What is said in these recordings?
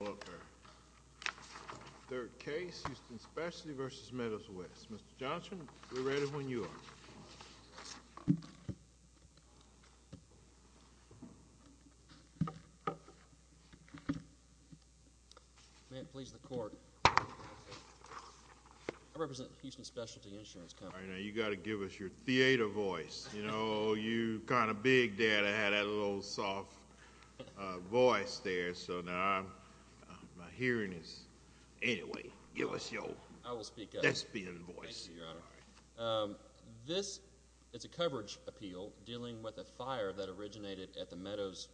Walker. Third case, Houston Specialty v. Meadows West. Mr. Johnson, we're ready when you are. May it please the court. I represent Houston Specialty Insurance Company. All right now, you got to give us your theater voice. You know, you kind of big there to have that little soft voice there. So now I'm, my hearing is, anyway, give us your. I will speak. That's being voiced. This is a coverage appeal dealing with a fire that originated at the Meadows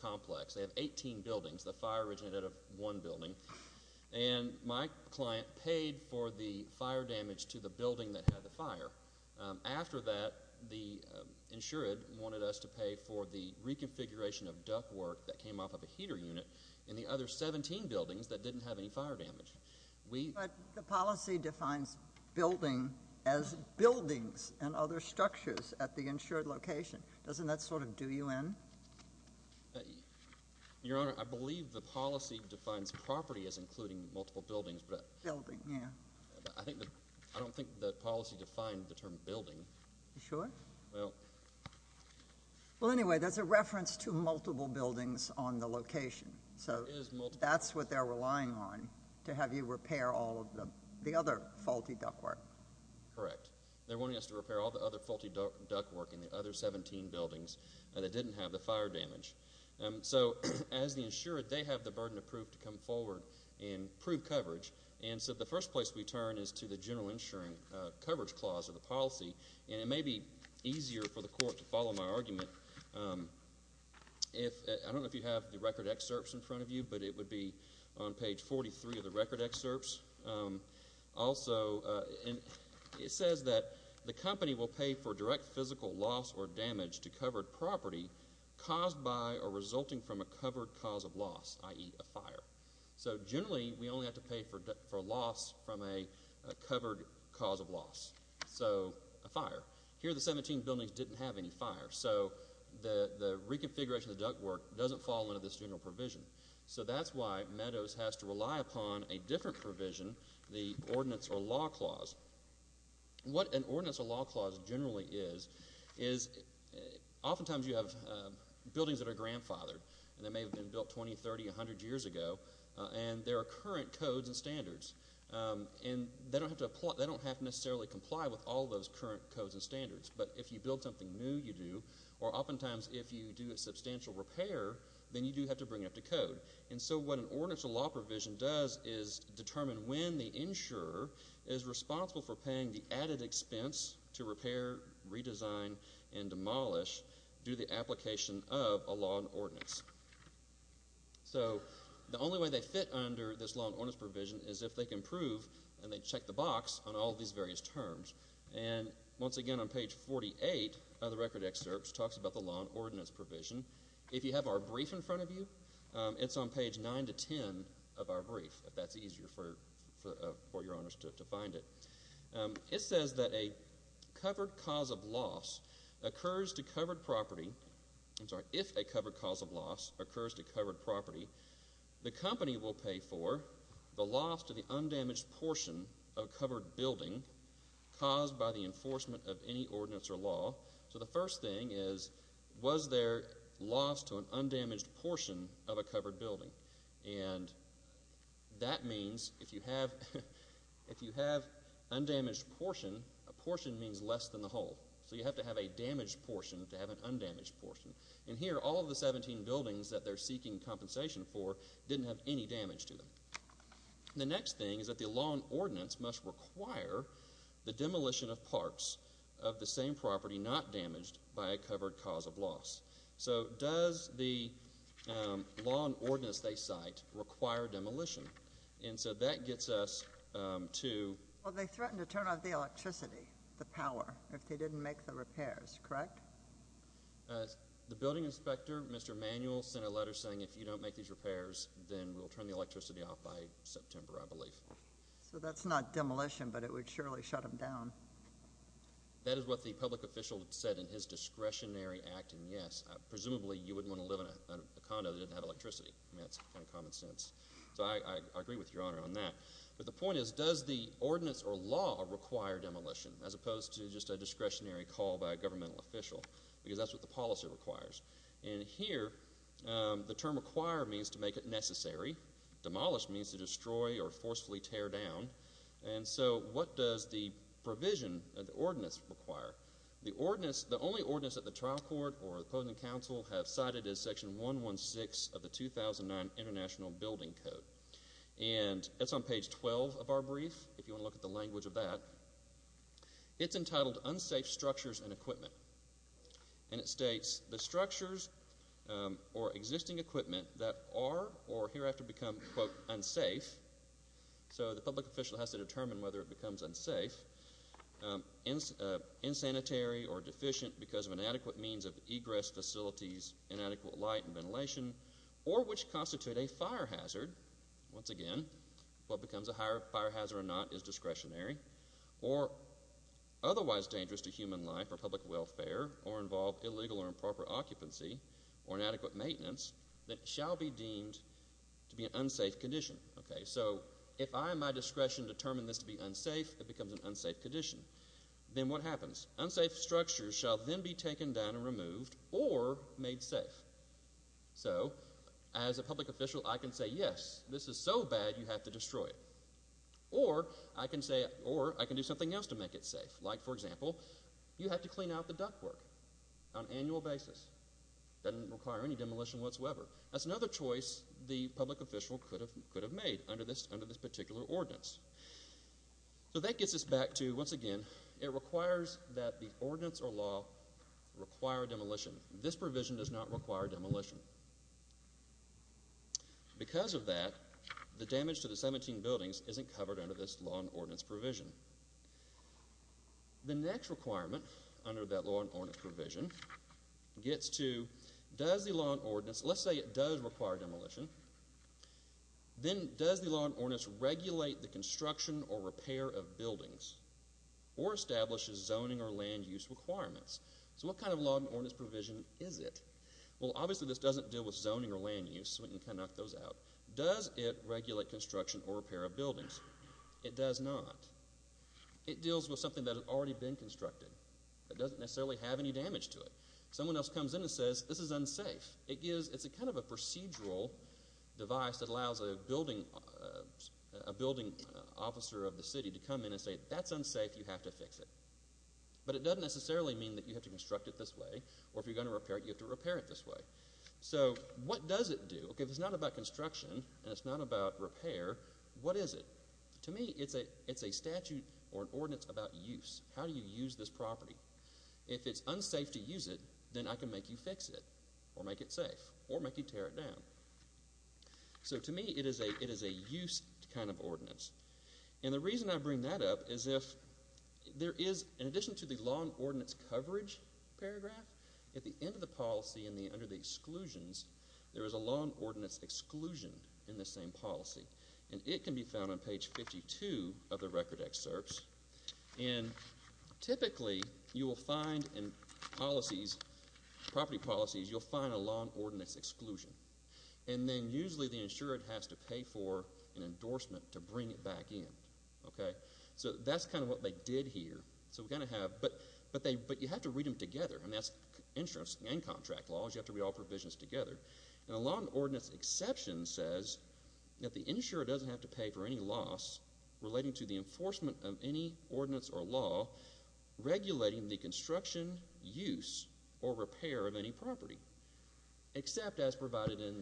complex. They have 18 buildings. The fire originated out of one building and my client paid for the fire damage to the building that had the fire. After that, the insured wanted us to pay for the reconfiguration of duct work that came off of a heater unit in the other 17 buildings that didn't have any fire damage. We. But the policy defines building as buildings and other structures at the insured location. Doesn't that sort of do you in? Your Honor, I believe the policy defines property as including multiple buildings, but. Building, yeah. I think, I don't think the policy defined the term building. You sure? Well. Well, anyway, that's a reference to multiple buildings on the location. So that's what they're relying on to have you repair all of the other faulty duct work. Correct. They're wanting us to repair all the other faulty duct work in the other 17 buildings that didn't have the fire damage. So as the insured, they have the burden of proof to come forward and prove coverage. And so the first place we turn is to the general coverage clause of the policy. And it may be easier for the court to follow my argument. I don't know if you have the record excerpts in front of you, but it would be on page 43 of the record excerpts. Also, it says that the company will pay for direct physical loss or damage to covered property caused by or resulting from a covered cause of loss, i.e. a fire. So generally, we only have to pay for loss from a covered cause of loss. So a fire. Here, the 17 buildings didn't have any fire. So the reconfiguration of the duct work doesn't fall under this general provision. So that's why Meadows has to rely upon a different provision, the ordinance or law clause. What an ordinance or law clause generally is, is oftentimes you have buildings that are current codes and standards. And they don't have to necessarily comply with all those current codes and standards. But if you build something new, you do. Or oftentimes, if you do a substantial repair, then you do have to bring it up to code. And so what an ordinance or law provision does is determine when the insurer is responsible for paying the added expense to repair, redesign, and demolish due to the application of a law and ordinance. So the only way they fit under this law and ordinance provision is if they can prove, and they check the box on all these various terms. And once again, on page 48 of the record excerpts talks about the law and ordinance provision. If you have our brief in front of you, it's on page 9 to 10 of our brief, if that's easier for your honors to find it. It says that a covered cause of loss occurs to covered property. I'm sorry, if a covered cause of loss occurs to covered property, the company will pay for the loss to the undamaged portion of a covered building caused by the enforcement of any ordinance or law. So the first thing is, was there loss to an undamaged portion of a covered building? And that means if you have undamaged portion, a portion means less than the whole. So you have to have a damaged portion to have an undamaged portion. And here, all of the 17 buildings that they're seeking compensation for didn't have any damage to them. The next thing is that the law and ordinance must require the demolition of parts of the same property not damaged by a covered cause of loss. So does the law and ordinance require demolition? And so that gets us to... Well, they threatened to turn off the electricity, the power, if they didn't make the repairs, correct? The building inspector, Mr. Manuel, sent a letter saying if you don't make these repairs, then we'll turn the electricity off by September, I believe. So that's not demolition, but it would surely shut them down. That is what the public official said in his discretionary act, and yes, presumably you wouldn't want to live in a condo that didn't have electricity. That's kind of common sense. So I agree with Your Honor on that. But the point is, does the ordinance or law require demolition as opposed to just a discretionary call by a governmental official? Because that's what the policy requires. And here, the term require means to make it necessary. Demolish means to destroy or forcefully tear down. And so what does the provision of the ordinance require? The ordinance, the only ordinance that the trial court or opposing counsel have cited is section 116 of the 2009 International Building Code. And it's on page 12 of our brief, if you want to look at the language of that. It's entitled, Unsafe Structures and Equipment. And it states, the structures or existing equipment that are or hereafter become, quote, unsafe. So the public means of egress facilities, inadequate light and ventilation, or which constitute a fire hazard, once again, what becomes a fire hazard or not is discretionary, or otherwise dangerous to human life or public welfare or involve illegal or improper occupancy or inadequate maintenance, that shall be deemed to be an unsafe condition. Okay, so if I, at my discretion, determine this to be unsafe, it becomes an unsafe condition. Then what happens? Unsafe structures shall then be taken down and removed or made safe. So as a public official, I can say, yes, this is so bad, you have to destroy it. Or I can say, or I can do something else to make it safe. Like, for example, you have to clean out the duct work on an annual basis. Doesn't require any demolition whatsoever. That's another choice the public official could have made under this particular ordinance. So that gets us back to, once again, it requires that the ordinance or law require demolition. This provision does not require demolition. Because of that, the damage to the 17 buildings isn't covered under this law and ordinance provision. The next requirement under that law and ordinance provision gets to, does the law and ordinance, let's say it does require demolition, then does the law and ordinance regulate the construction or repair of buildings or establishes zoning or land use requirements? So what kind of law and ordinance provision is it? Well, obviously this doesn't deal with zoning or land use, so we can kind of knock those out. Does it regulate construction or repair of buildings? It does not. It deals with something that has already been constructed. It doesn't necessarily have any damage to it. Someone else may have a procedural device that allows a building officer of the city to come in and say, that's unsafe, you have to fix it. But it doesn't necessarily mean that you have to construct it this way, or if you're going to repair it, you have to repair it this way. So what does it do? Okay, if it's not about construction and it's not about repair, what is it? To me, it's a statute or an ordinance about use. How do you use this property? If it's unsafe to use it, then I can make you fix it or make it safe or make you tear it down. So to me, it is a use kind of ordinance. And the reason I bring that up is if there is, in addition to the law and ordinance coverage paragraph, at the end of the policy and under the exclusions, there is a law and ordinance exclusion in this same policy. And it can be found on page 52 of the record excerpts. And typically, you will find in policies, property policies, you'll find a law and ordinance exclusion. And then usually the insurer has to pay for an endorsement to bring it back in. Okay, so that's kind of what they did here. So we kind of have, but you have to read them together. And that's insurance and contract laws. You have to read all provisions together. And a law and ordinance exception says that the insurer doesn't have to pay for any loss relating to the enforcement of any ordinance or law regulating the construction, use, or repair of any property, except as provided in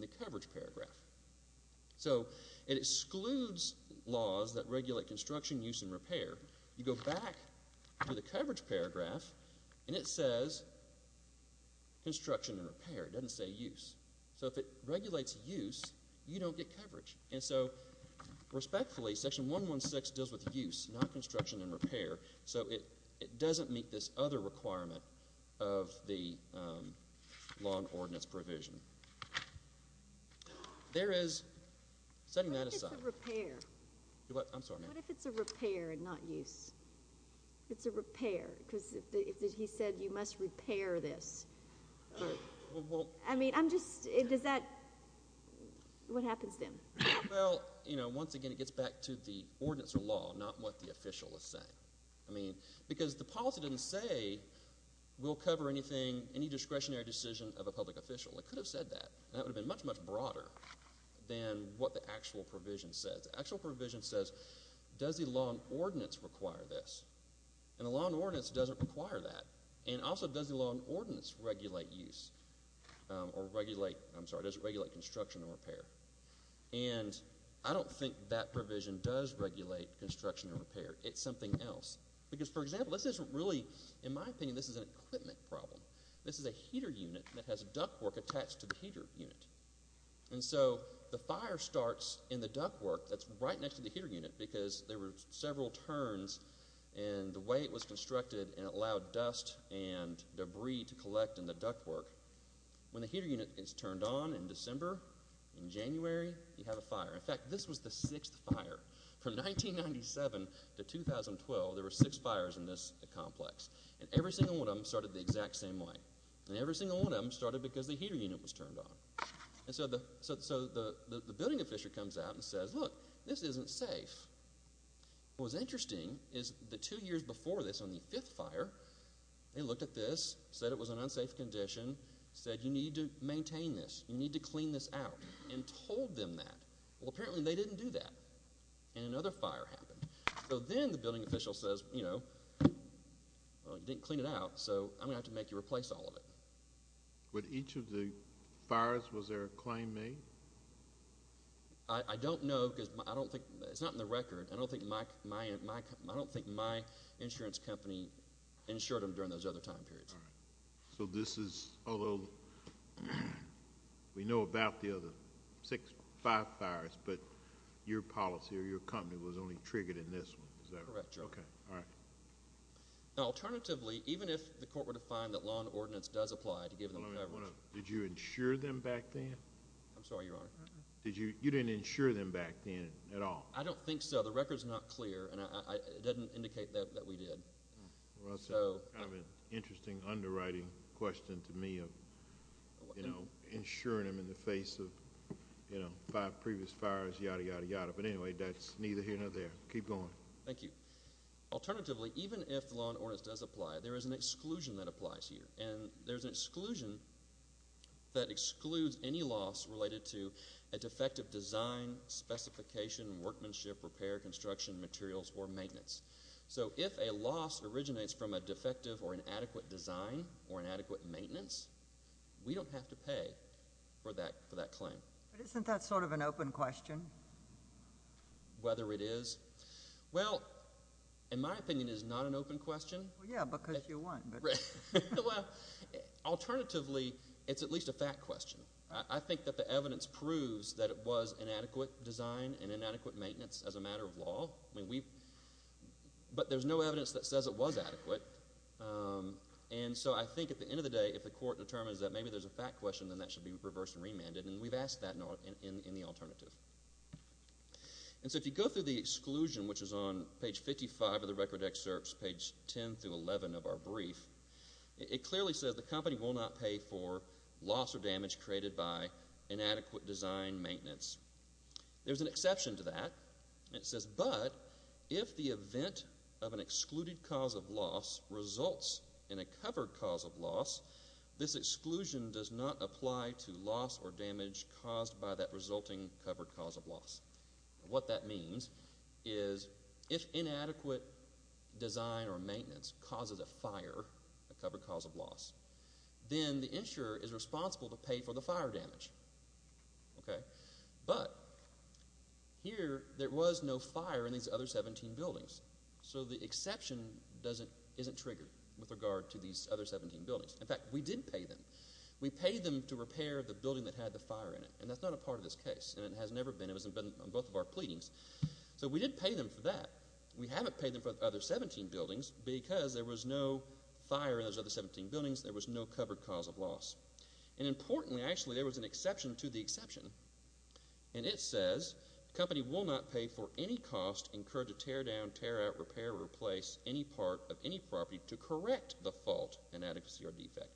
the coverage paragraph. So it excludes laws that regulate construction, use, and repair. You go back to the coverage paragraph, and it says construction and repair. It doesn't say use. So if it regulates use, you don't get coverage. And so respectfully, section 116 deals with use, not construction and repair. So it doesn't meet this other requirement of the law and ordinance provision. There is, setting that aside. What if it's a repair? I'm sorry, ma'am. What if it's a repair and not use? It's a repair, because he said you must repair this. I mean, I'm just does that, what happens then? Well, you know, once again, it gets back to the ordinance or law, not what the official is saying. I mean, because the policy didn't say we'll cover anything, any discretionary decision of a public official. It could have said that. That would have been much, much broader than what the actual provision says. The actual provision says, does the law and ordinance require this? And the law and ordinance doesn't require that. And also, does the law and ordinance regulate use or regulate, I'm sorry, does it regulate construction and repair? And I don't think that provision does regulate construction and repair. It's something else. Because for example, this isn't really, in my opinion, this is an equipment problem. This is a heater unit that has ductwork attached to the heater unit. And so the fire starts in the ductwork that's right next to the heater unit, because there were several turns and the way it was constructed and it allowed dust and debris to collect in the ductwork. When the heater unit is turned on in December, in January, you have a fire. In fact, this was the sixth fire. From 1997 to 2012, there were six fires in this complex. And every single one of them started the exact same way. And every single one of them started because the heater unit was turned on. And so the building official comes out and says, look, this isn't safe. What was interesting is the two years before this, on the fifth fire, they looked at this, said it was an unsafe condition, said you need to maintain this, you need to clean this out, and told them that. Well, apparently they didn't do that. And another fire happened. So then the building official says, you know, well, you didn't clean it out, so I'm going to have to make you replace all of it. With each of the fires, was there a claim made? I don't know, because I don't think, it's not in the record, I don't think my insurance company insured them during those other time periods. So this is, although we know about the other six, five fires, but your policy or your company was only triggered in this one, is that right? Correct, Your Honor. Okay, all right. Now, alternatively, even if the court were to find that law and ordinance does apply to give them coverage. Did you insure them back then? I'm sorry, Your Honor. You didn't insure them back at all? I don't think so. The record's not clear, and it doesn't indicate that we did. Kind of an interesting underwriting question to me of, you know, insuring them in the face of, you know, five previous fires, yada, yada, yada. But anyway, that's neither here nor there. Keep going. Thank you. Alternatively, even if the law and ordinance does apply, there is an exclusion that applies here. And there's an exclusion that excludes any loss related to a defective design, specification, workmanship, repair, construction, materials, or maintenance. So if a loss originates from a defective or inadequate design or inadequate maintenance, we don't have to pay for that claim. But isn't that sort of an open question? Whether it is? Well, in my opinion, it is not an open question. Yeah, because you won. Well, alternatively, it's at least a fact question. I think that the evidence proves that it was inadequate design and inadequate maintenance as a matter of law. But there's no evidence that says it was adequate. And so I think at the end of the day, if the court determines that maybe there's a fact question, then that should be reversed and remanded. And we've asked that in the alternative. And so if you go through the exclusion, which is on page 55 of the record excerpts, page 10 through 11 of our brief, it clearly says the company will not pay for loss or damage created by inadequate design maintenance. There's an exception to that. It says, but if the event of an excluded cause of loss results in a covered cause of loss, this exclusion does not apply to loss or damage caused by that resulting covered cause of loss. What that means is if inadequate design or maintenance causes a fire, a covered cause of loss, then the insurer is responsible to pay for the fire damage. But here, there was no fire in these other 17 buildings. So the exception isn't triggered with regard to these other 17 buildings. In fact, we did pay them. We paid them to repair the building that had the fire in it. And that's not a part of this case. And it has never been. It was on both of our pleadings. So we did pay them for that. We haven't paid them for the other 17 buildings because there was no covered cause of loss. And importantly, actually, there was an exception to the exception. And it says the company will not pay for any cost incurred to tear down, tear out, repair, or replace any part of any property to correct the fault, inadequacy, or defect.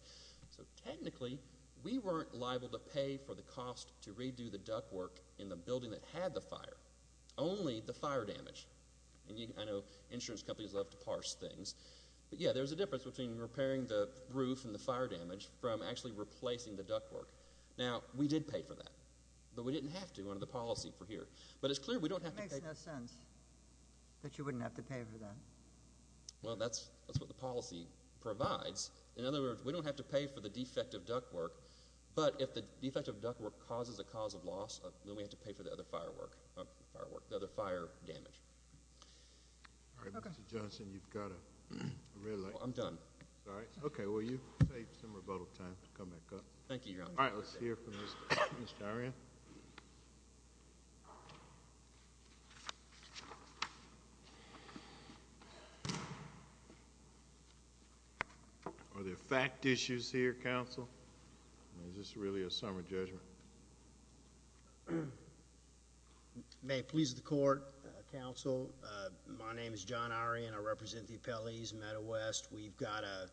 So technically, we weren't liable to pay for the cost to redo the ductwork in the building that had the fire, only the fire damage. And I know insurance companies love to parse things. But yeah, there's a difference between repairing the roof and the fire damage from actually replacing the ductwork. Now, we did pay for that. But we didn't have to under the policy for here. But it's clear we don't have to pay. It makes no sense that you wouldn't have to pay for that. Well, that's what the policy provides. In other words, we don't have to pay for the defective ductwork. But if the defective ductwork causes a cause of loss, then we have to pay for the other damage. All right, Mr. Johnson, you've got a red light. Well, I'm done. All right. Okay. Well, you've saved some rebuttal time to come back up. Thank you, Your Honor. All right. Let's hear from Mr. Dyerian. Are there fact issues here, counsel? Is this really a summer judgment? May it please the court, counsel. My name is John Irie, and I represent the appellees in Meadow West. We've got a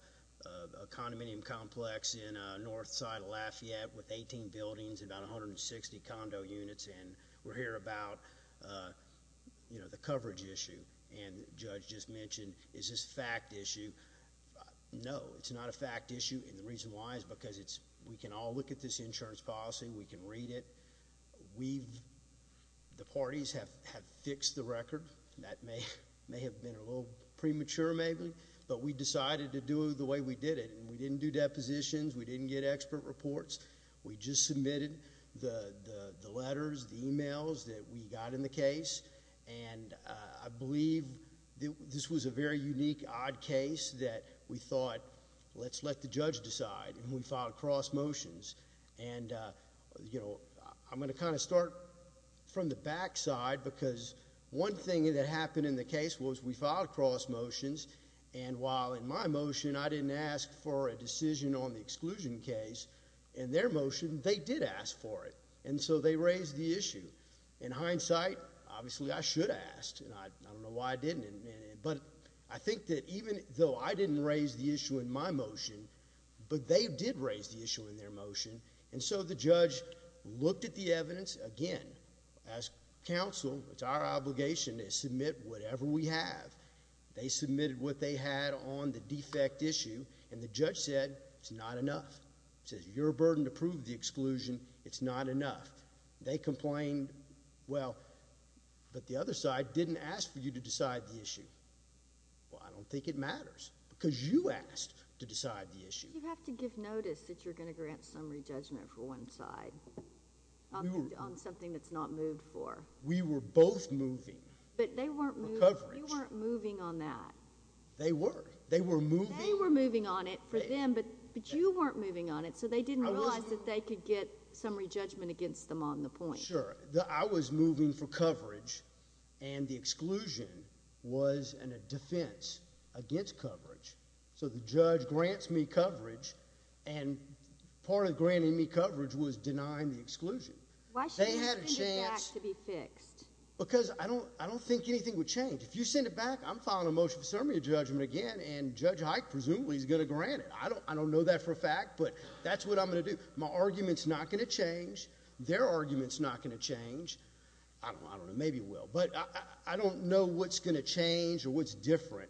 condominium complex in north side of Lafayette with 18 buildings and about 160 condo units. And we're here about the coverage issue. And the judge just mentioned, is this a fact issue? No, it's not a fact issue. And the reason why is because we can all look at this insurance policy. We can read it. The parties have fixed the record. That may have been a little premature, maybe. But we decided to do it the way we did it. And we didn't do depositions. We didn't get expert reports. We just submitted the letters, the emails that we got in the case. And I believe this was a very unique, odd case that we thought, let's let the judge decide. And we filed cross motions. And, you know, I'm going to kind of start from the back side because one thing that happened in the case was we filed cross motions. And while in my motion I didn't ask for a decision on the exclusion case, in their motion they did ask for it. And so they raised the issue. In hindsight, obviously I should have asked. And I don't know why I didn't. But I think that even though I didn't raise the issue in my motion, but they did raise the issue in their motion. And so the judge looked at the evidence again. As counsel, it's our obligation to submit whatever we have. They submitted what they had on the defect issue. And the judge said, it's not enough. It says you're a burden to prove the exclusion. It's not enough. They complained. Well, but the other side didn't ask for you to decide the issue. Well, I don't think it matters because you asked to decide the issue. You have to give notice that you're going to grant summary judgment for one side on something that's not moved for. We were both moving. But they weren't moving on that. They were. They were moving. They were moving on it for them, but you weren't moving on it. So they didn't realize that they could get summary judgment against them on the point. I was moving for coverage, and the exclusion was in a defense against coverage. So the judge grants me coverage, and part of granting me coverage was denying the exclusion. Why should you send it back to be fixed? Because I don't think anything would change. If you send it back, I'm filing a motion for summary judgment again, and Judge Hike presumably is going to grant it. I don't know that for a change. I don't know. Maybe it will, but I don't know what's going to change or what's different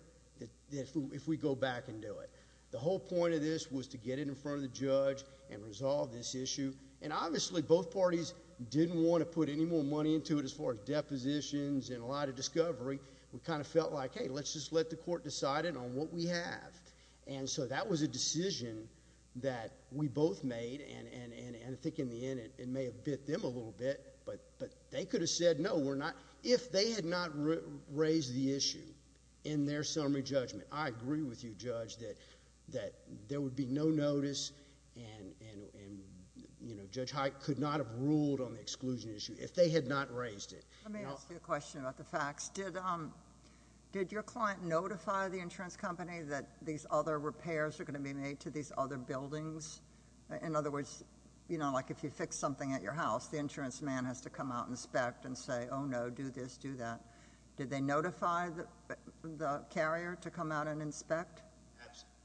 if we go back and do it. The whole point of this was to get it in front of the judge and resolve this issue, and obviously both parties didn't want to put any more money into it as far as depositions and a lot of discovery. We kind of felt like, hey, let's just let the court decide it on what we have, and so that was a decision that we both made, and I think in the end it may have hit them a little bit, but they could have said, no, if they had not raised the issue in their summary judgment, I agree with you, Judge, that there would be no notice, and Judge Hike could not have ruled on the exclusion issue if they had not raised it. Let me ask you a question about the facts. Did your client notify the insurance company that these other repairs are going to be made to these other buildings? In other words, you know, like if you fix something at your house, the insurance man has to come out and inspect and say, oh, no, do this, do that. Did they notify the carrier to come out and inspect?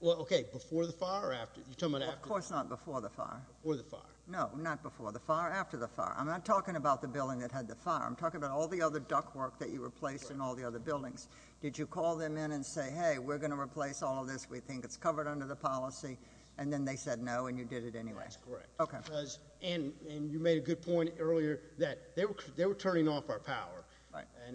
Well, okay, before the fire or after? You're talking about after? Of course not before the fire. Before the fire. No, not before the fire, after the fire. I'm not talking about the building that had the fire. I'm talking about all the other duct work that you replaced in all the other buildings. Did you call them in and say, hey, we're going to replace all of this, we think it's covered under the policy, and then they said no and you did it anyway? That's correct, and you made a good point earlier that they were turning off our power,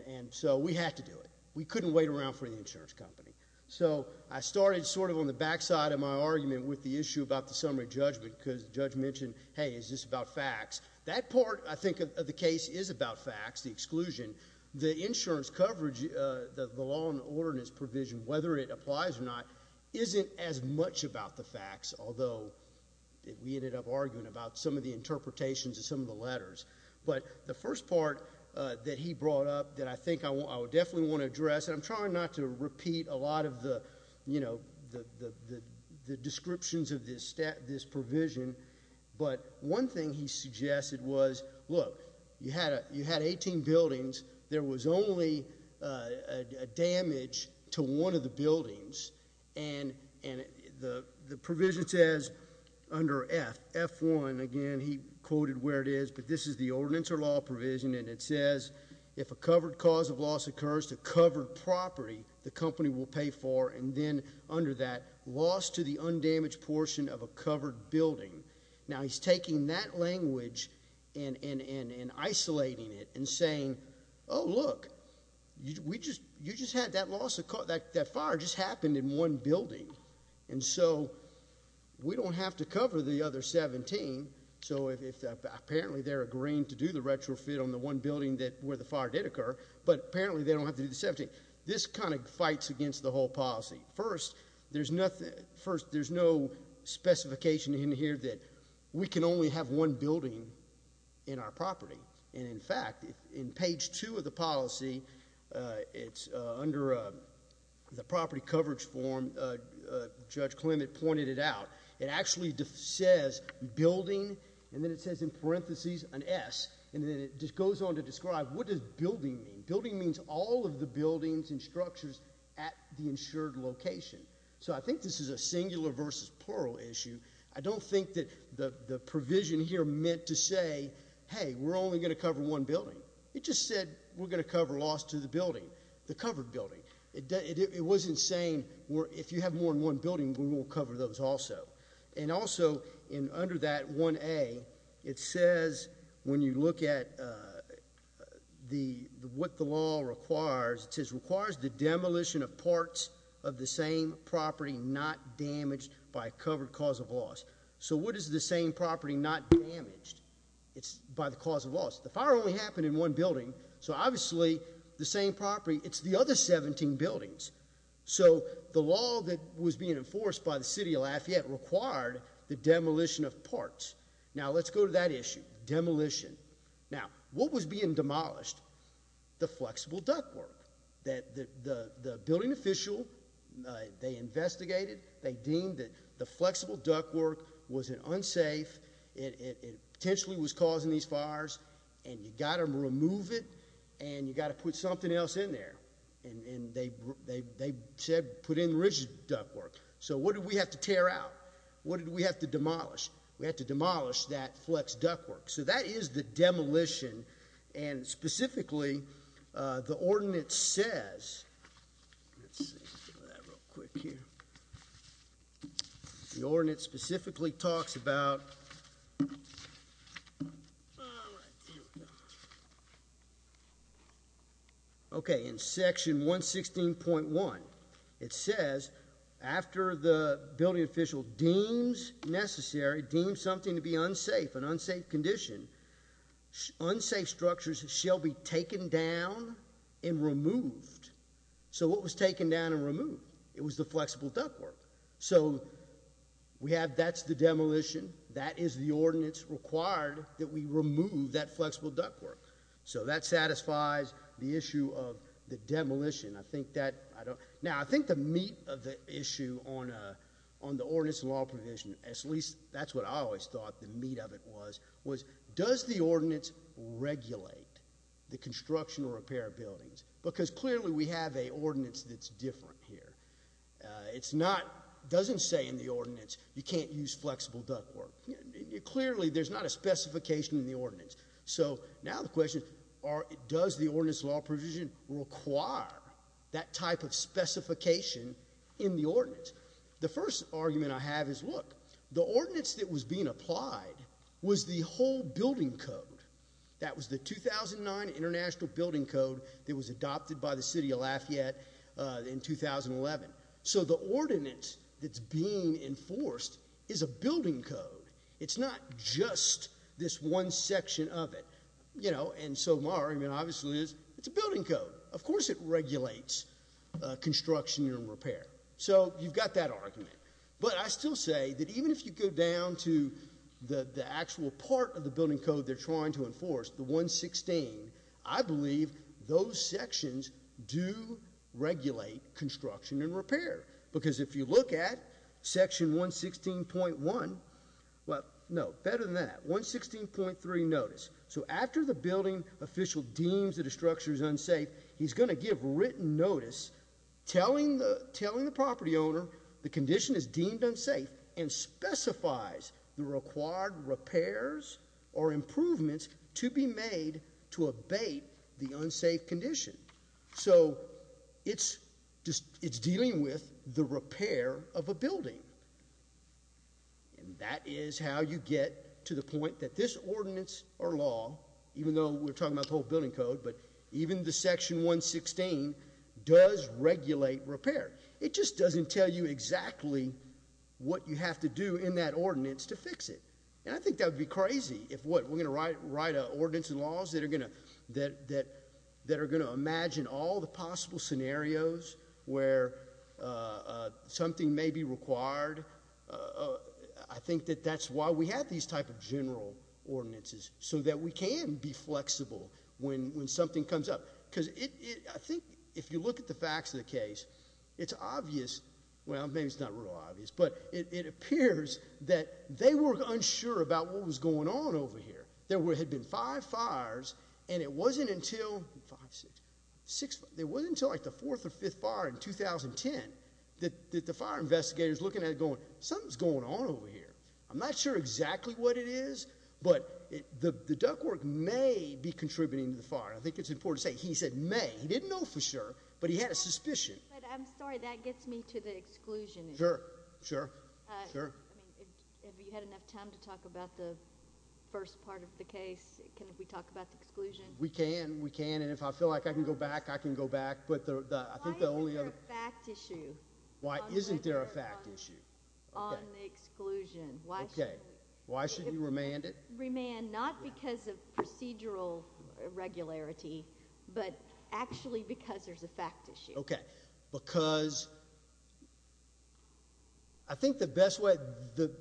and so we had to do it. We couldn't wait around for the insurance company. So I started sort of on the backside of my argument with the issue about the summary judgment because the judge mentioned, hey, is this about facts? That part, I think, of the case is about facts, the exclusion. The insurance coverage, the law and order and its provision, whether it applies or not, isn't as much about the facts, although we ended up arguing about some of the interpretations of some of the letters, but the first part that he brought up that I think I would definitely want to address, and I'm trying not to repeat a lot of the descriptions of this provision, but one thing he suggested was, look, you had 18 buildings. There was only a damage to one of the buildings, and the provision says under F1, again, he quoted where it is, but this is the ordinance or law provision, and it says if a covered cause of loss occurs to covered property, the company will pay for, and then under that, loss to the undamaged portion of a covered building. Now, he's taking that language and isolating it and saying, oh, look, you just had that loss, that fire just happened in one building, and so we don't have to cover the other 17, so apparently they're agreeing to do the retrofit on the one building where the fire did occur, but apparently they don't have to do the 17. This kind of fights against the whole policy. First, there's no specification in here that we can only have one building in our property, and in fact, in page two of the policy, it's under the property coverage form. Judge Clement pointed it out. It actually says building, and then it says in parentheses an S, and then it just goes on to describe what does building mean. Building means all of the buildings and structures at the insured location, so I think this is a singular versus plural issue. I don't think that the provision here meant to say, hey, we're only going to cover one building. It just said we're going to cover loss to the building, the covered building. It wasn't saying if you have more than one building, we will cover those also, and also under that 1A, it says when you look at what the law requires, it says it requires the demolition of parts of the same property not damaged by covered cause of loss, so what is the same property not damaged? It's by the cause of loss. The fire only happened in one building, so obviously the same property, it's the other 17 buildings, so the law that was being enforced by the city of Lafayette required the demolition of parts. Now, let's go to that issue, demolition. Now, what was being demolished? The flexible duct work that the building official, they investigated, they deemed that the flexible duct work was unsafe, it potentially was causing these fires, and you got to remove it, and you got to put something else in there, and they said put in rigid duct work, so what did we have to tear out? What did we have to demolish? We had to demolition, and specifically, the ordinance says, let's see, that real quick here, the ordinance specifically talks about, okay, in section 116.1, it says after the building official deems necessary, something to be unsafe, an unsafe condition, unsafe structures shall be taken down and removed, so what was taken down and removed? It was the flexible duct work, so we have, that's the demolition, that is the ordinance required that we remove that flexible duct work, so that satisfies the issue of the demolition. I think that, I don't, now, I think the meat of the issue on the law provision, at least that's what I always thought the meat of it was, was does the ordinance regulate the construction or repair buildings, because clearly we have an ordinance that's different here. It's not, doesn't say in the ordinance, you can't use flexible duct work. Clearly, there's not a specification in the ordinance, so now the question, does the ordinance law provision require that type of specification in the ordinance? The first argument I have is, look, the ordinance that was being applied was the whole building code. That was the 2009 international building code that was adopted by the city of Lafayette in 2011, so the ordinance that's being enforced is a building code. It's not just this one section of it, you know, and so my argument, obviously, is it's a building code. Of course it regulates construction and repair, so you've got that argument, but I still say that even if you go down to the actual part of the building code they're trying to enforce, the 116, I believe those sections do regulate construction and repair, because if you look at section 116.1, well, no, better than that, 116.3 notice, so after the building official deems that a structure is unsafe, he's going to give written notice telling the property owner the condition is deemed unsafe and specifies the required repairs or improvements to be made to abate the unsafe condition, so it's dealing with the repair of a building, and that is how you get to the point that this ordinance or law, even though we're talking about the whole building code, but even the section 116 does regulate repair. It just doesn't tell you exactly what you have to do in that ordinance to fix it, and I think that would be crazy if, what, we're going to write ordinance and laws that are going to imagine all the I think that that's why we have these type of general ordinances, so that we can be flexible when something comes up, because I think if you look at the facts of the case, it's obvious, well, maybe it's not real obvious, but it appears that they were unsure about what was going on over here. There had been five fires and it wasn't until, five, six, six, there wasn't until like the fire investigators looking at it going, something's going on over here. I'm not sure exactly what it is, but the the duck work may be contributing to the fire. I think it's important to say he said may. He didn't know for sure, but he had a suspicion. But I'm sorry, that gets me to the exclusion issue. Sure, sure, sure. I mean, if you had enough time to talk about the first part of the case, can we talk about the exclusion? We can, we can, and if I feel like I can go back, I can go back, but the I think the only other fact issue, why isn't there a fact issue on the exclusion? Okay, why shouldn't you remand it? Remand, not because of procedural irregularity, but actually because there's a fact issue. Okay, because I think the best way, the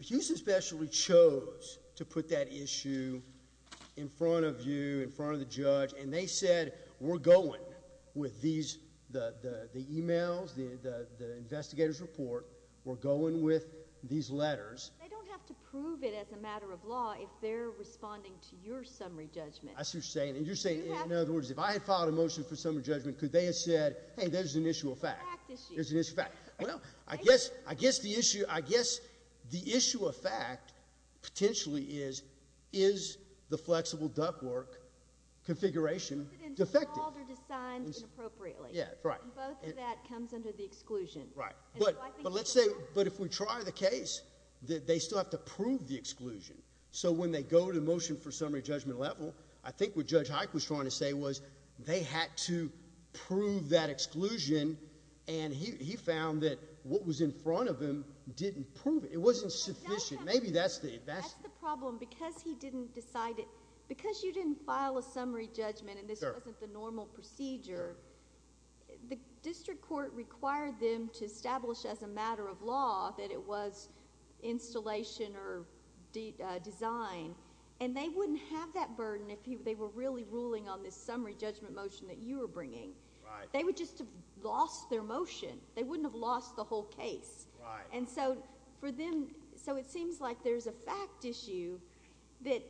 Houston Specialty chose to put that issue in front of you, in front of the judge, and they said we're going with these, the emails, the investigators report, we're going with these letters. They don't have to prove it as a matter of law if they're responding to your summary judgment. That's what you're saying, and you're saying, in other words, if I had filed a motion for summary judgment, could they have said, hey, there's an issue of fact, there's an issue of fact. Well, I guess, I guess the issue, I guess the issue of fact potentially is, is the flexible ductwork configuration defective? Is it involved or designed inappropriately? Yeah, right. Both of that comes under the exclusion. Right, but let's say, but if we try the case, they still have to prove the exclusion, so when they go to motion for summary judgment level, I think what Judge Hike was trying to say they had to prove that exclusion, and he found that what was in front of him didn't prove it. It wasn't sufficient. Maybe that's the, that's the problem. Because he didn't decide it, because you didn't file a summary judgment, and this wasn't the normal procedure, the district court required them to establish as a matter of law that it was installation or design, and they wouldn't have that burden if they were really ruling on this summary judgment motion that you were bringing. They would just have lost their motion. They wouldn't have lost the whole case. And so, for them, so it seems like there's a fact issue that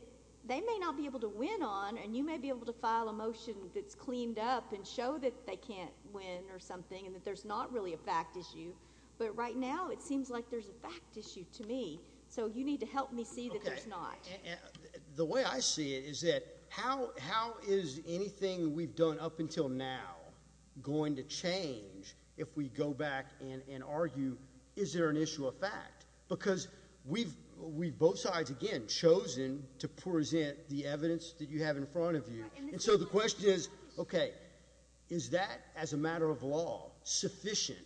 they may not be able to win on, and you may be able to file a motion that's cleaned up and show that they can't win or something, and that there's not really a fact issue, but right now, it seems like there's a fact issue to me, so you need to help me see that there's not. Okay, and the way I see it is that how is anything we've done up until now going to change if we go back and argue is there an issue of fact? Because we've both sides, again, chosen to present the evidence that you have in front of you, and so the question is, okay, is that as a matter of law sufficient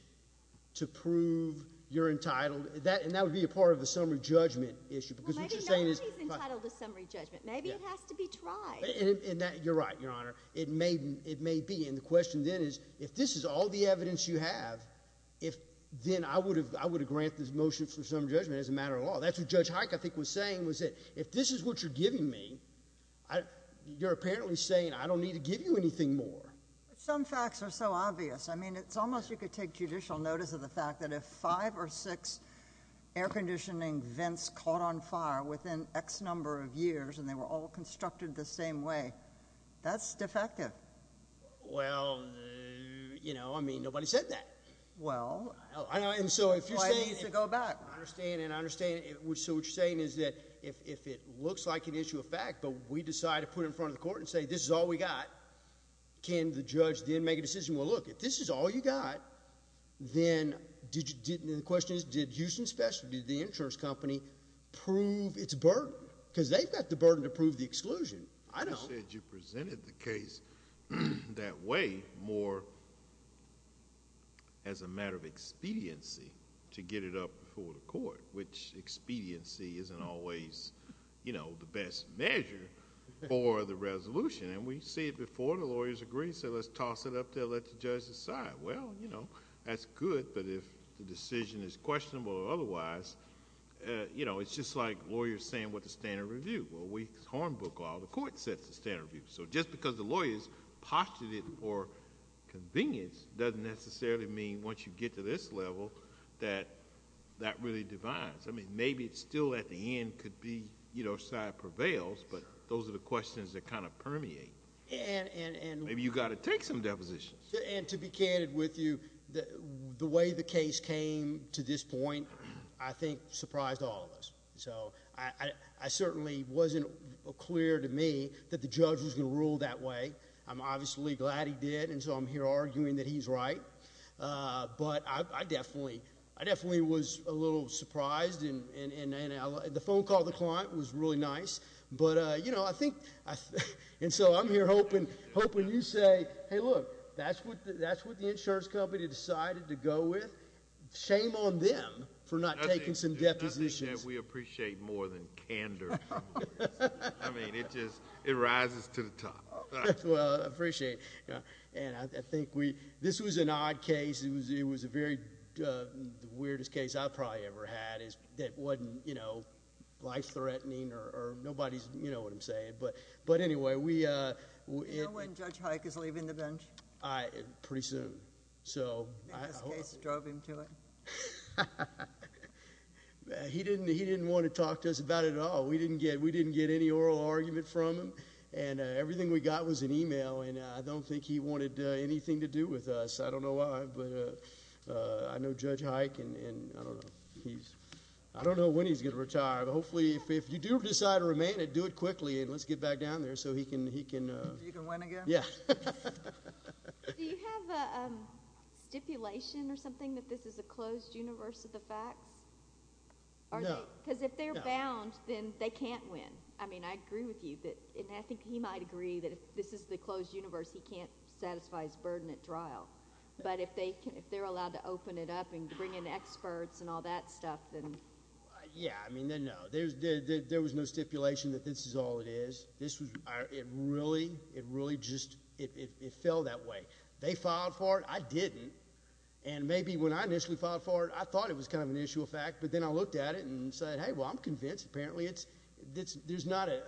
to prove you're entitled? And that would be a part of the summary judgment issue, because what you're saying is— Well, maybe nobody's entitled to summary judgment. Maybe it has to be tried. And you're right, Your Honor. It may be, and the question then is, if this is all the evidence you have, then I would have granted this motion for summary judgment as a matter of law. That's what Judge Hike, I think, was saying, was that if this is what you're giving me, you're apparently saying I don't need to give you anything more. Some facts are so obvious. I mean, it's almost you take judicial notice of the fact that if five or six air conditioning vents caught on fire within X number of years, and they were all constructed the same way, that's defective. Well, you know, I mean, nobody said that. Well, why do you need to go back? I understand, and I understand. So what you're saying is that if it looks like an issue of fact, but we decide to put it in front of the court and say this is all we got, can the judge then make a decision, well, look, if this is all you got, then the question is, did Houston Specialty, the insurance company, prove its burden? Because they've got the burden to prove the exclusion. I don't. You said you presented the case that way more as a matter of expediency to get it up before the court, which expediency isn't always, you know, the best measure for the resolution. And we see it before, the lawyers agree, so let's toss it up there, let the judge decide. Well, you know, that's good, but if the decision is questionable or otherwise, you know, it's just like lawyers saying what the standard review. Well, we hornbook all the court sets the standard review. So just because the lawyers postulated for convenience doesn't necessarily mean once you get to this level that that really divides. I mean, maybe it's still at the end could be, you know, side prevails, but those are the questions that kind of permeate. And maybe you got to take some depositions. And to be candid with you, the way the case came to this point, I think, surprised all of us. So I certainly wasn't clear to me that the judge was going to rule that way. I'm obviously glad he did, and so I'm here arguing that he's right. But I definitely was a little surprised, and the phone call to the client was really nice. But, you know, I think, and so I'm here hoping you say, hey, look, that's what the insurance company decided to go with. Shame on them for not taking some depositions. I think that we appreciate more than candor. I mean, it just, it rises to the top. Well, I appreciate it. And I think we, this was an odd case. It was a very, the weirdest case I've probably ever had that wasn't, you know, life-threatening or nobody's, you know what I'm saying. But anyway, we... You know when Judge Hike is leaving the bench? Pretty soon. I think this case drove him to it. He didn't want to talk to us about it at all. We didn't get any oral argument from him. And everything we got was an email, and I don't think he wanted anything to do with us. I don't know why, but I know Judge Hike, and I don't know. He's, I don't know when he's going to retire, but hopefully, if you do decide to remain, do it quickly, and let's get back down there so he can... So you can win again? Yeah. Do you have a stipulation or something that this is a closed universe of the facts? No. Because if they're bound, then they can't win. I mean, I agree with you, and I think he might agree that if this is the closed universe, he can't satisfy his burden at trial. But if they're allowed to open it up and bring in experts and all that stuff, then... Yeah, I mean, then no. There was no stipulation that this is all it is. It really just... It fell that way. They filed for it. I didn't. And maybe when I initially filed for it, I thought it was kind of an issue of fact, but then I looked at it and said, hey, well, I'm convinced. Apparently, there's not a...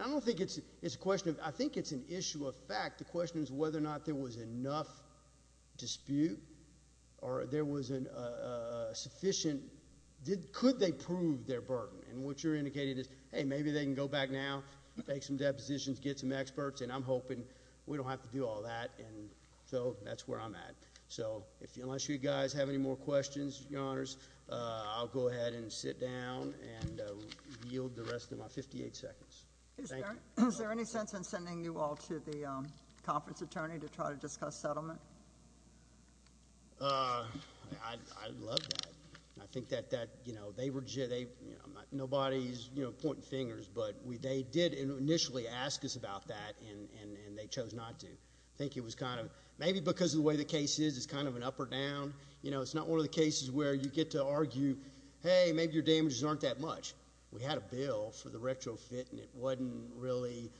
I don't think it's a question of... I think it's an issue of fact. The question is whether or not there was enough dispute or there was a sufficient... Could they prove their burden? And what you're indicating is, hey, maybe they can go back now, make some depositions, get some experts, and I'm hoping we don't have to do all that. And so that's where I'm at. So unless you guys have any more questions, Your Honors, I'll go ahead and conference attorney to try to discuss settlement. I love that. I think that they were... Nobody's pointing fingers, but they did initially ask us about that, and they chose not to. I think it was kind of... Maybe because of the way the case is, it's kind of an up or down. It's not one of the cases where you get to argue, hey, maybe your damages aren't that much. We had a bill for the retrofit, and it wasn't really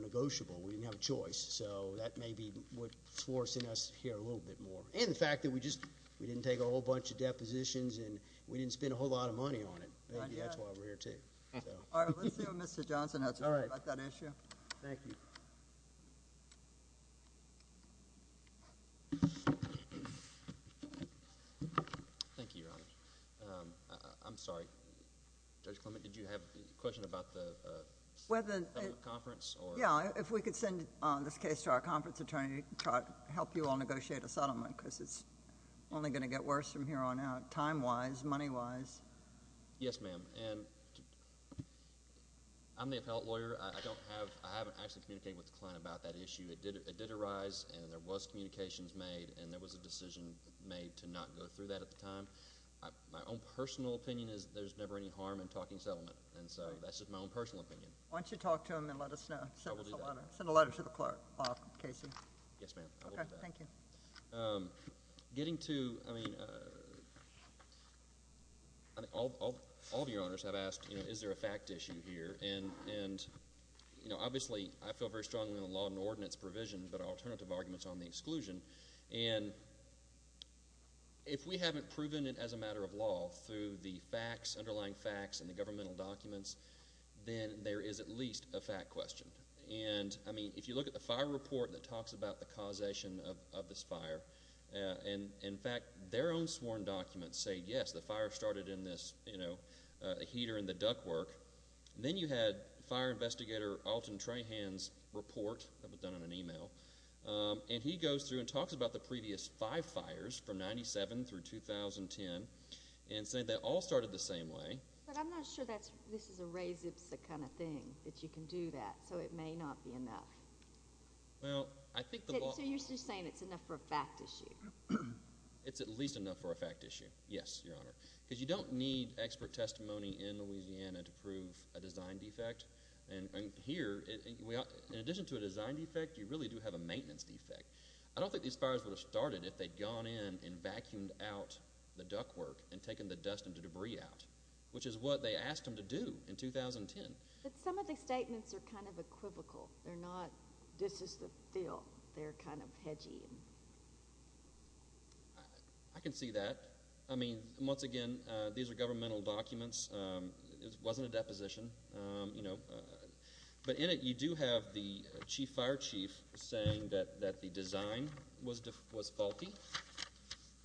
negotiable. We didn't have a choice. So that may be what's forcing us here a little bit more. And the fact that we didn't take a whole bunch of depositions, and we didn't spend a whole lot of money on it. Maybe that's why we're here, too. All right. Let's see what Mr. Johnson has to say about that issue. Thank you. Thank you, Your Honor. I'm sorry. Judge Clement, did you have a settlement conference? Yeah. If we could send this case to our conference attorney to help you all negotiate a settlement, because it's only going to get worse from here on out, time-wise, money-wise. Yes, ma'am. I'm the appellate lawyer. I haven't actually communicated with the client about that issue. It did arise, and there was communications made, and there was a decision made to not go through that at the time. My own personal opinion is there's never any harm in personal opinion. Why don't you talk to him and let us know. I will do that. Send a letter to the clerk, Casey. Yes, ma'am. I will do that. Okay. Thank you. Getting to, I mean, all of Your Honors have asked, you know, is there a fact issue here? And, you know, obviously, I feel very strongly in the law and ordinance provision, but alternative arguments on the exclusion. And if we haven't proven it as a matter of law through the facts, underlying facts, and the governmental documents, then there is at least a fact question. And, I mean, if you look at the fire report that talks about the causation of this fire, and, in fact, their own sworn documents say, yes, the fire started in this, you know, heater in the duck work. Then you had fire investigator Alton Trahan's report that was done in an email, and he goes through and talks about the previous five fires from 97 through 2010, and said that all started the same way. But I'm not sure that this is a res-ipsa kind of thing, that you can do that. So it may not be enough. Well, I think the law. So you're just saying it's enough for a fact issue? It's at least enough for a fact issue. Yes, Your Honor. Because you don't need expert testimony in Louisiana to prove a design defect. And here, in addition to a design defect, you really do have a maintenance defect. I don't think these fires would have started if they'd gone in and vacuumed out the duck work and taken the dust and debris out, which is what they asked them to do in 2010. But some of these statements are kind of equivocal. They're not, this is the deal. They're kind of hedgy. I can see that. I mean, once again, these are governmental documents. It wasn't a deposition, you know. But in it, you do have the chief fire chief saying that the design was faulty.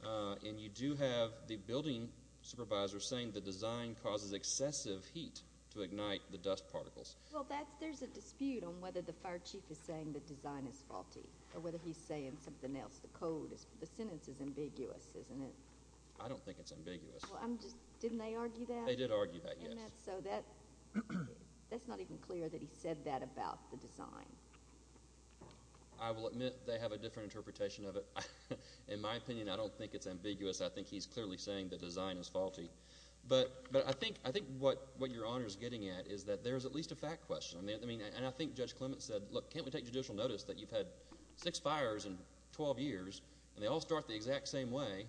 And you do have the building supervisor saying the design causes excessive heat to ignite the dust particles. Well, that's, there's a dispute on whether the fire chief is saying the design is faulty, or whether he's saying something else. The code is, the sentence is ambiguous, isn't it? I don't think it's ambiguous. Well, I'm just, didn't they argue that? They did argue that, yes. So that's not even clear that he said that about the design. I will admit they have a different interpretation of it. In my opinion, I don't think it's ambiguous. I think he's clearly saying the design is faulty. But I think what your Honor's getting at is that there's at least a fact question. I mean, and I think Judge Clement said, look, can't we take judicial notice that you've had six fires in 12 years, and they all start the exact same way?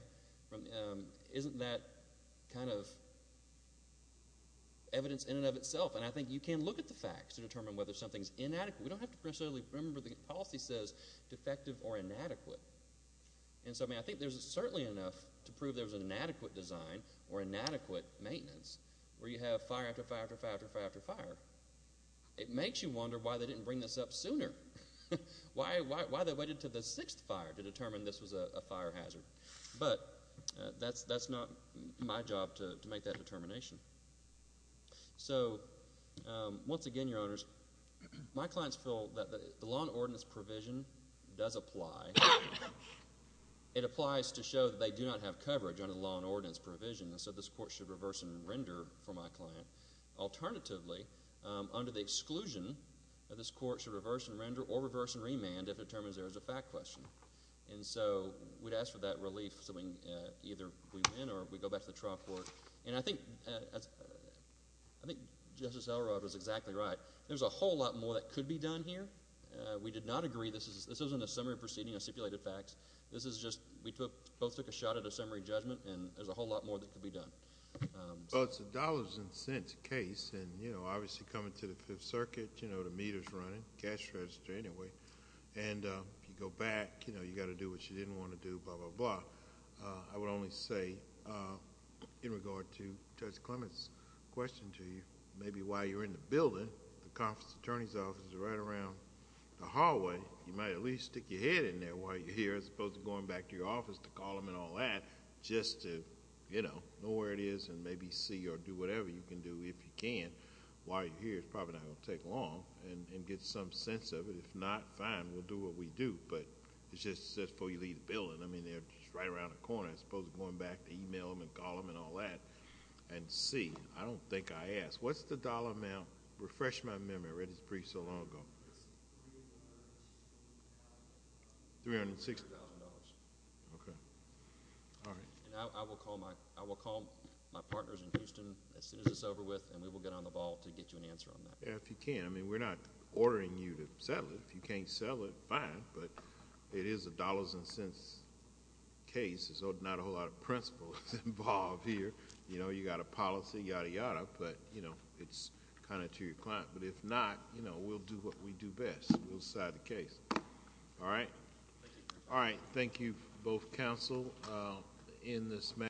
Isn't that kind of evidence in and of itself? And I think you can look at the facts to determine whether something's inadequate. We don't have to necessarily remember the policy says defective or inadequate. And so, I mean, I think there's certainly enough to prove there's an inadequate design, or inadequate maintenance, where you have fire after fire after fire after fire after fire. It makes you wonder why they didn't bring this up But that's not my job to make that determination. So once again, Your Honors, my clients feel that the law and ordinance provision does apply. It applies to show that they do not have coverage under the law and ordinance provision, and so this Court should reverse and render for my client. Alternatively, under the exclusion, this Court should reverse and render or reverse and remand if it determines there is a fact question. And so we'd ask for that relief, so either we win, or we go back to the trial court. And I think Justice Elrod was exactly right. There's a whole lot more that could be done here. We did not agree. This isn't a summary proceeding of stipulated facts. This is just, we both took a shot at a summary judgment, and there's a whole lot more that could be done. Well, it's a dollars and cents case, and you know, obviously coming to Fifth Circuit, you know, the meter's running, cash register anyway. And if you go back, you know, you got to do what you didn't want to do, blah, blah, blah. I would only say, in regard to Judge Clement's question to you, maybe while you're in the building, the conference attorney's office is right around the hallway. You might at least stick your head in there while you're here, as opposed to going back to your office to call them and all that, just to, you know, know where it is and maybe see or do whatever you can do, if you can, while you're here. It's probably not going to take long, and get some sense of it. If not, fine, we'll do what we do, but it's just before you leave the building. I mean, they're just right around the corner, as opposed to going back to email them and call them and all that, and see. I don't think I asked. What's the dollar amount? Refresh my partners in Houston as soon as it's over with, and we will get on the ball to get you an answer on that. Yeah, if you can. I mean, we're not ordering you to settle it. If you can't sell it, fine, but it is a dollars and cents case, so not a whole lot of principles involved here. You know, you got a policy, yada, yada, but, you know, it's kind of to your client. But if not, you know, we'll do what we do best. We'll decide the case. All right? All right. Thank you, both counsel. In this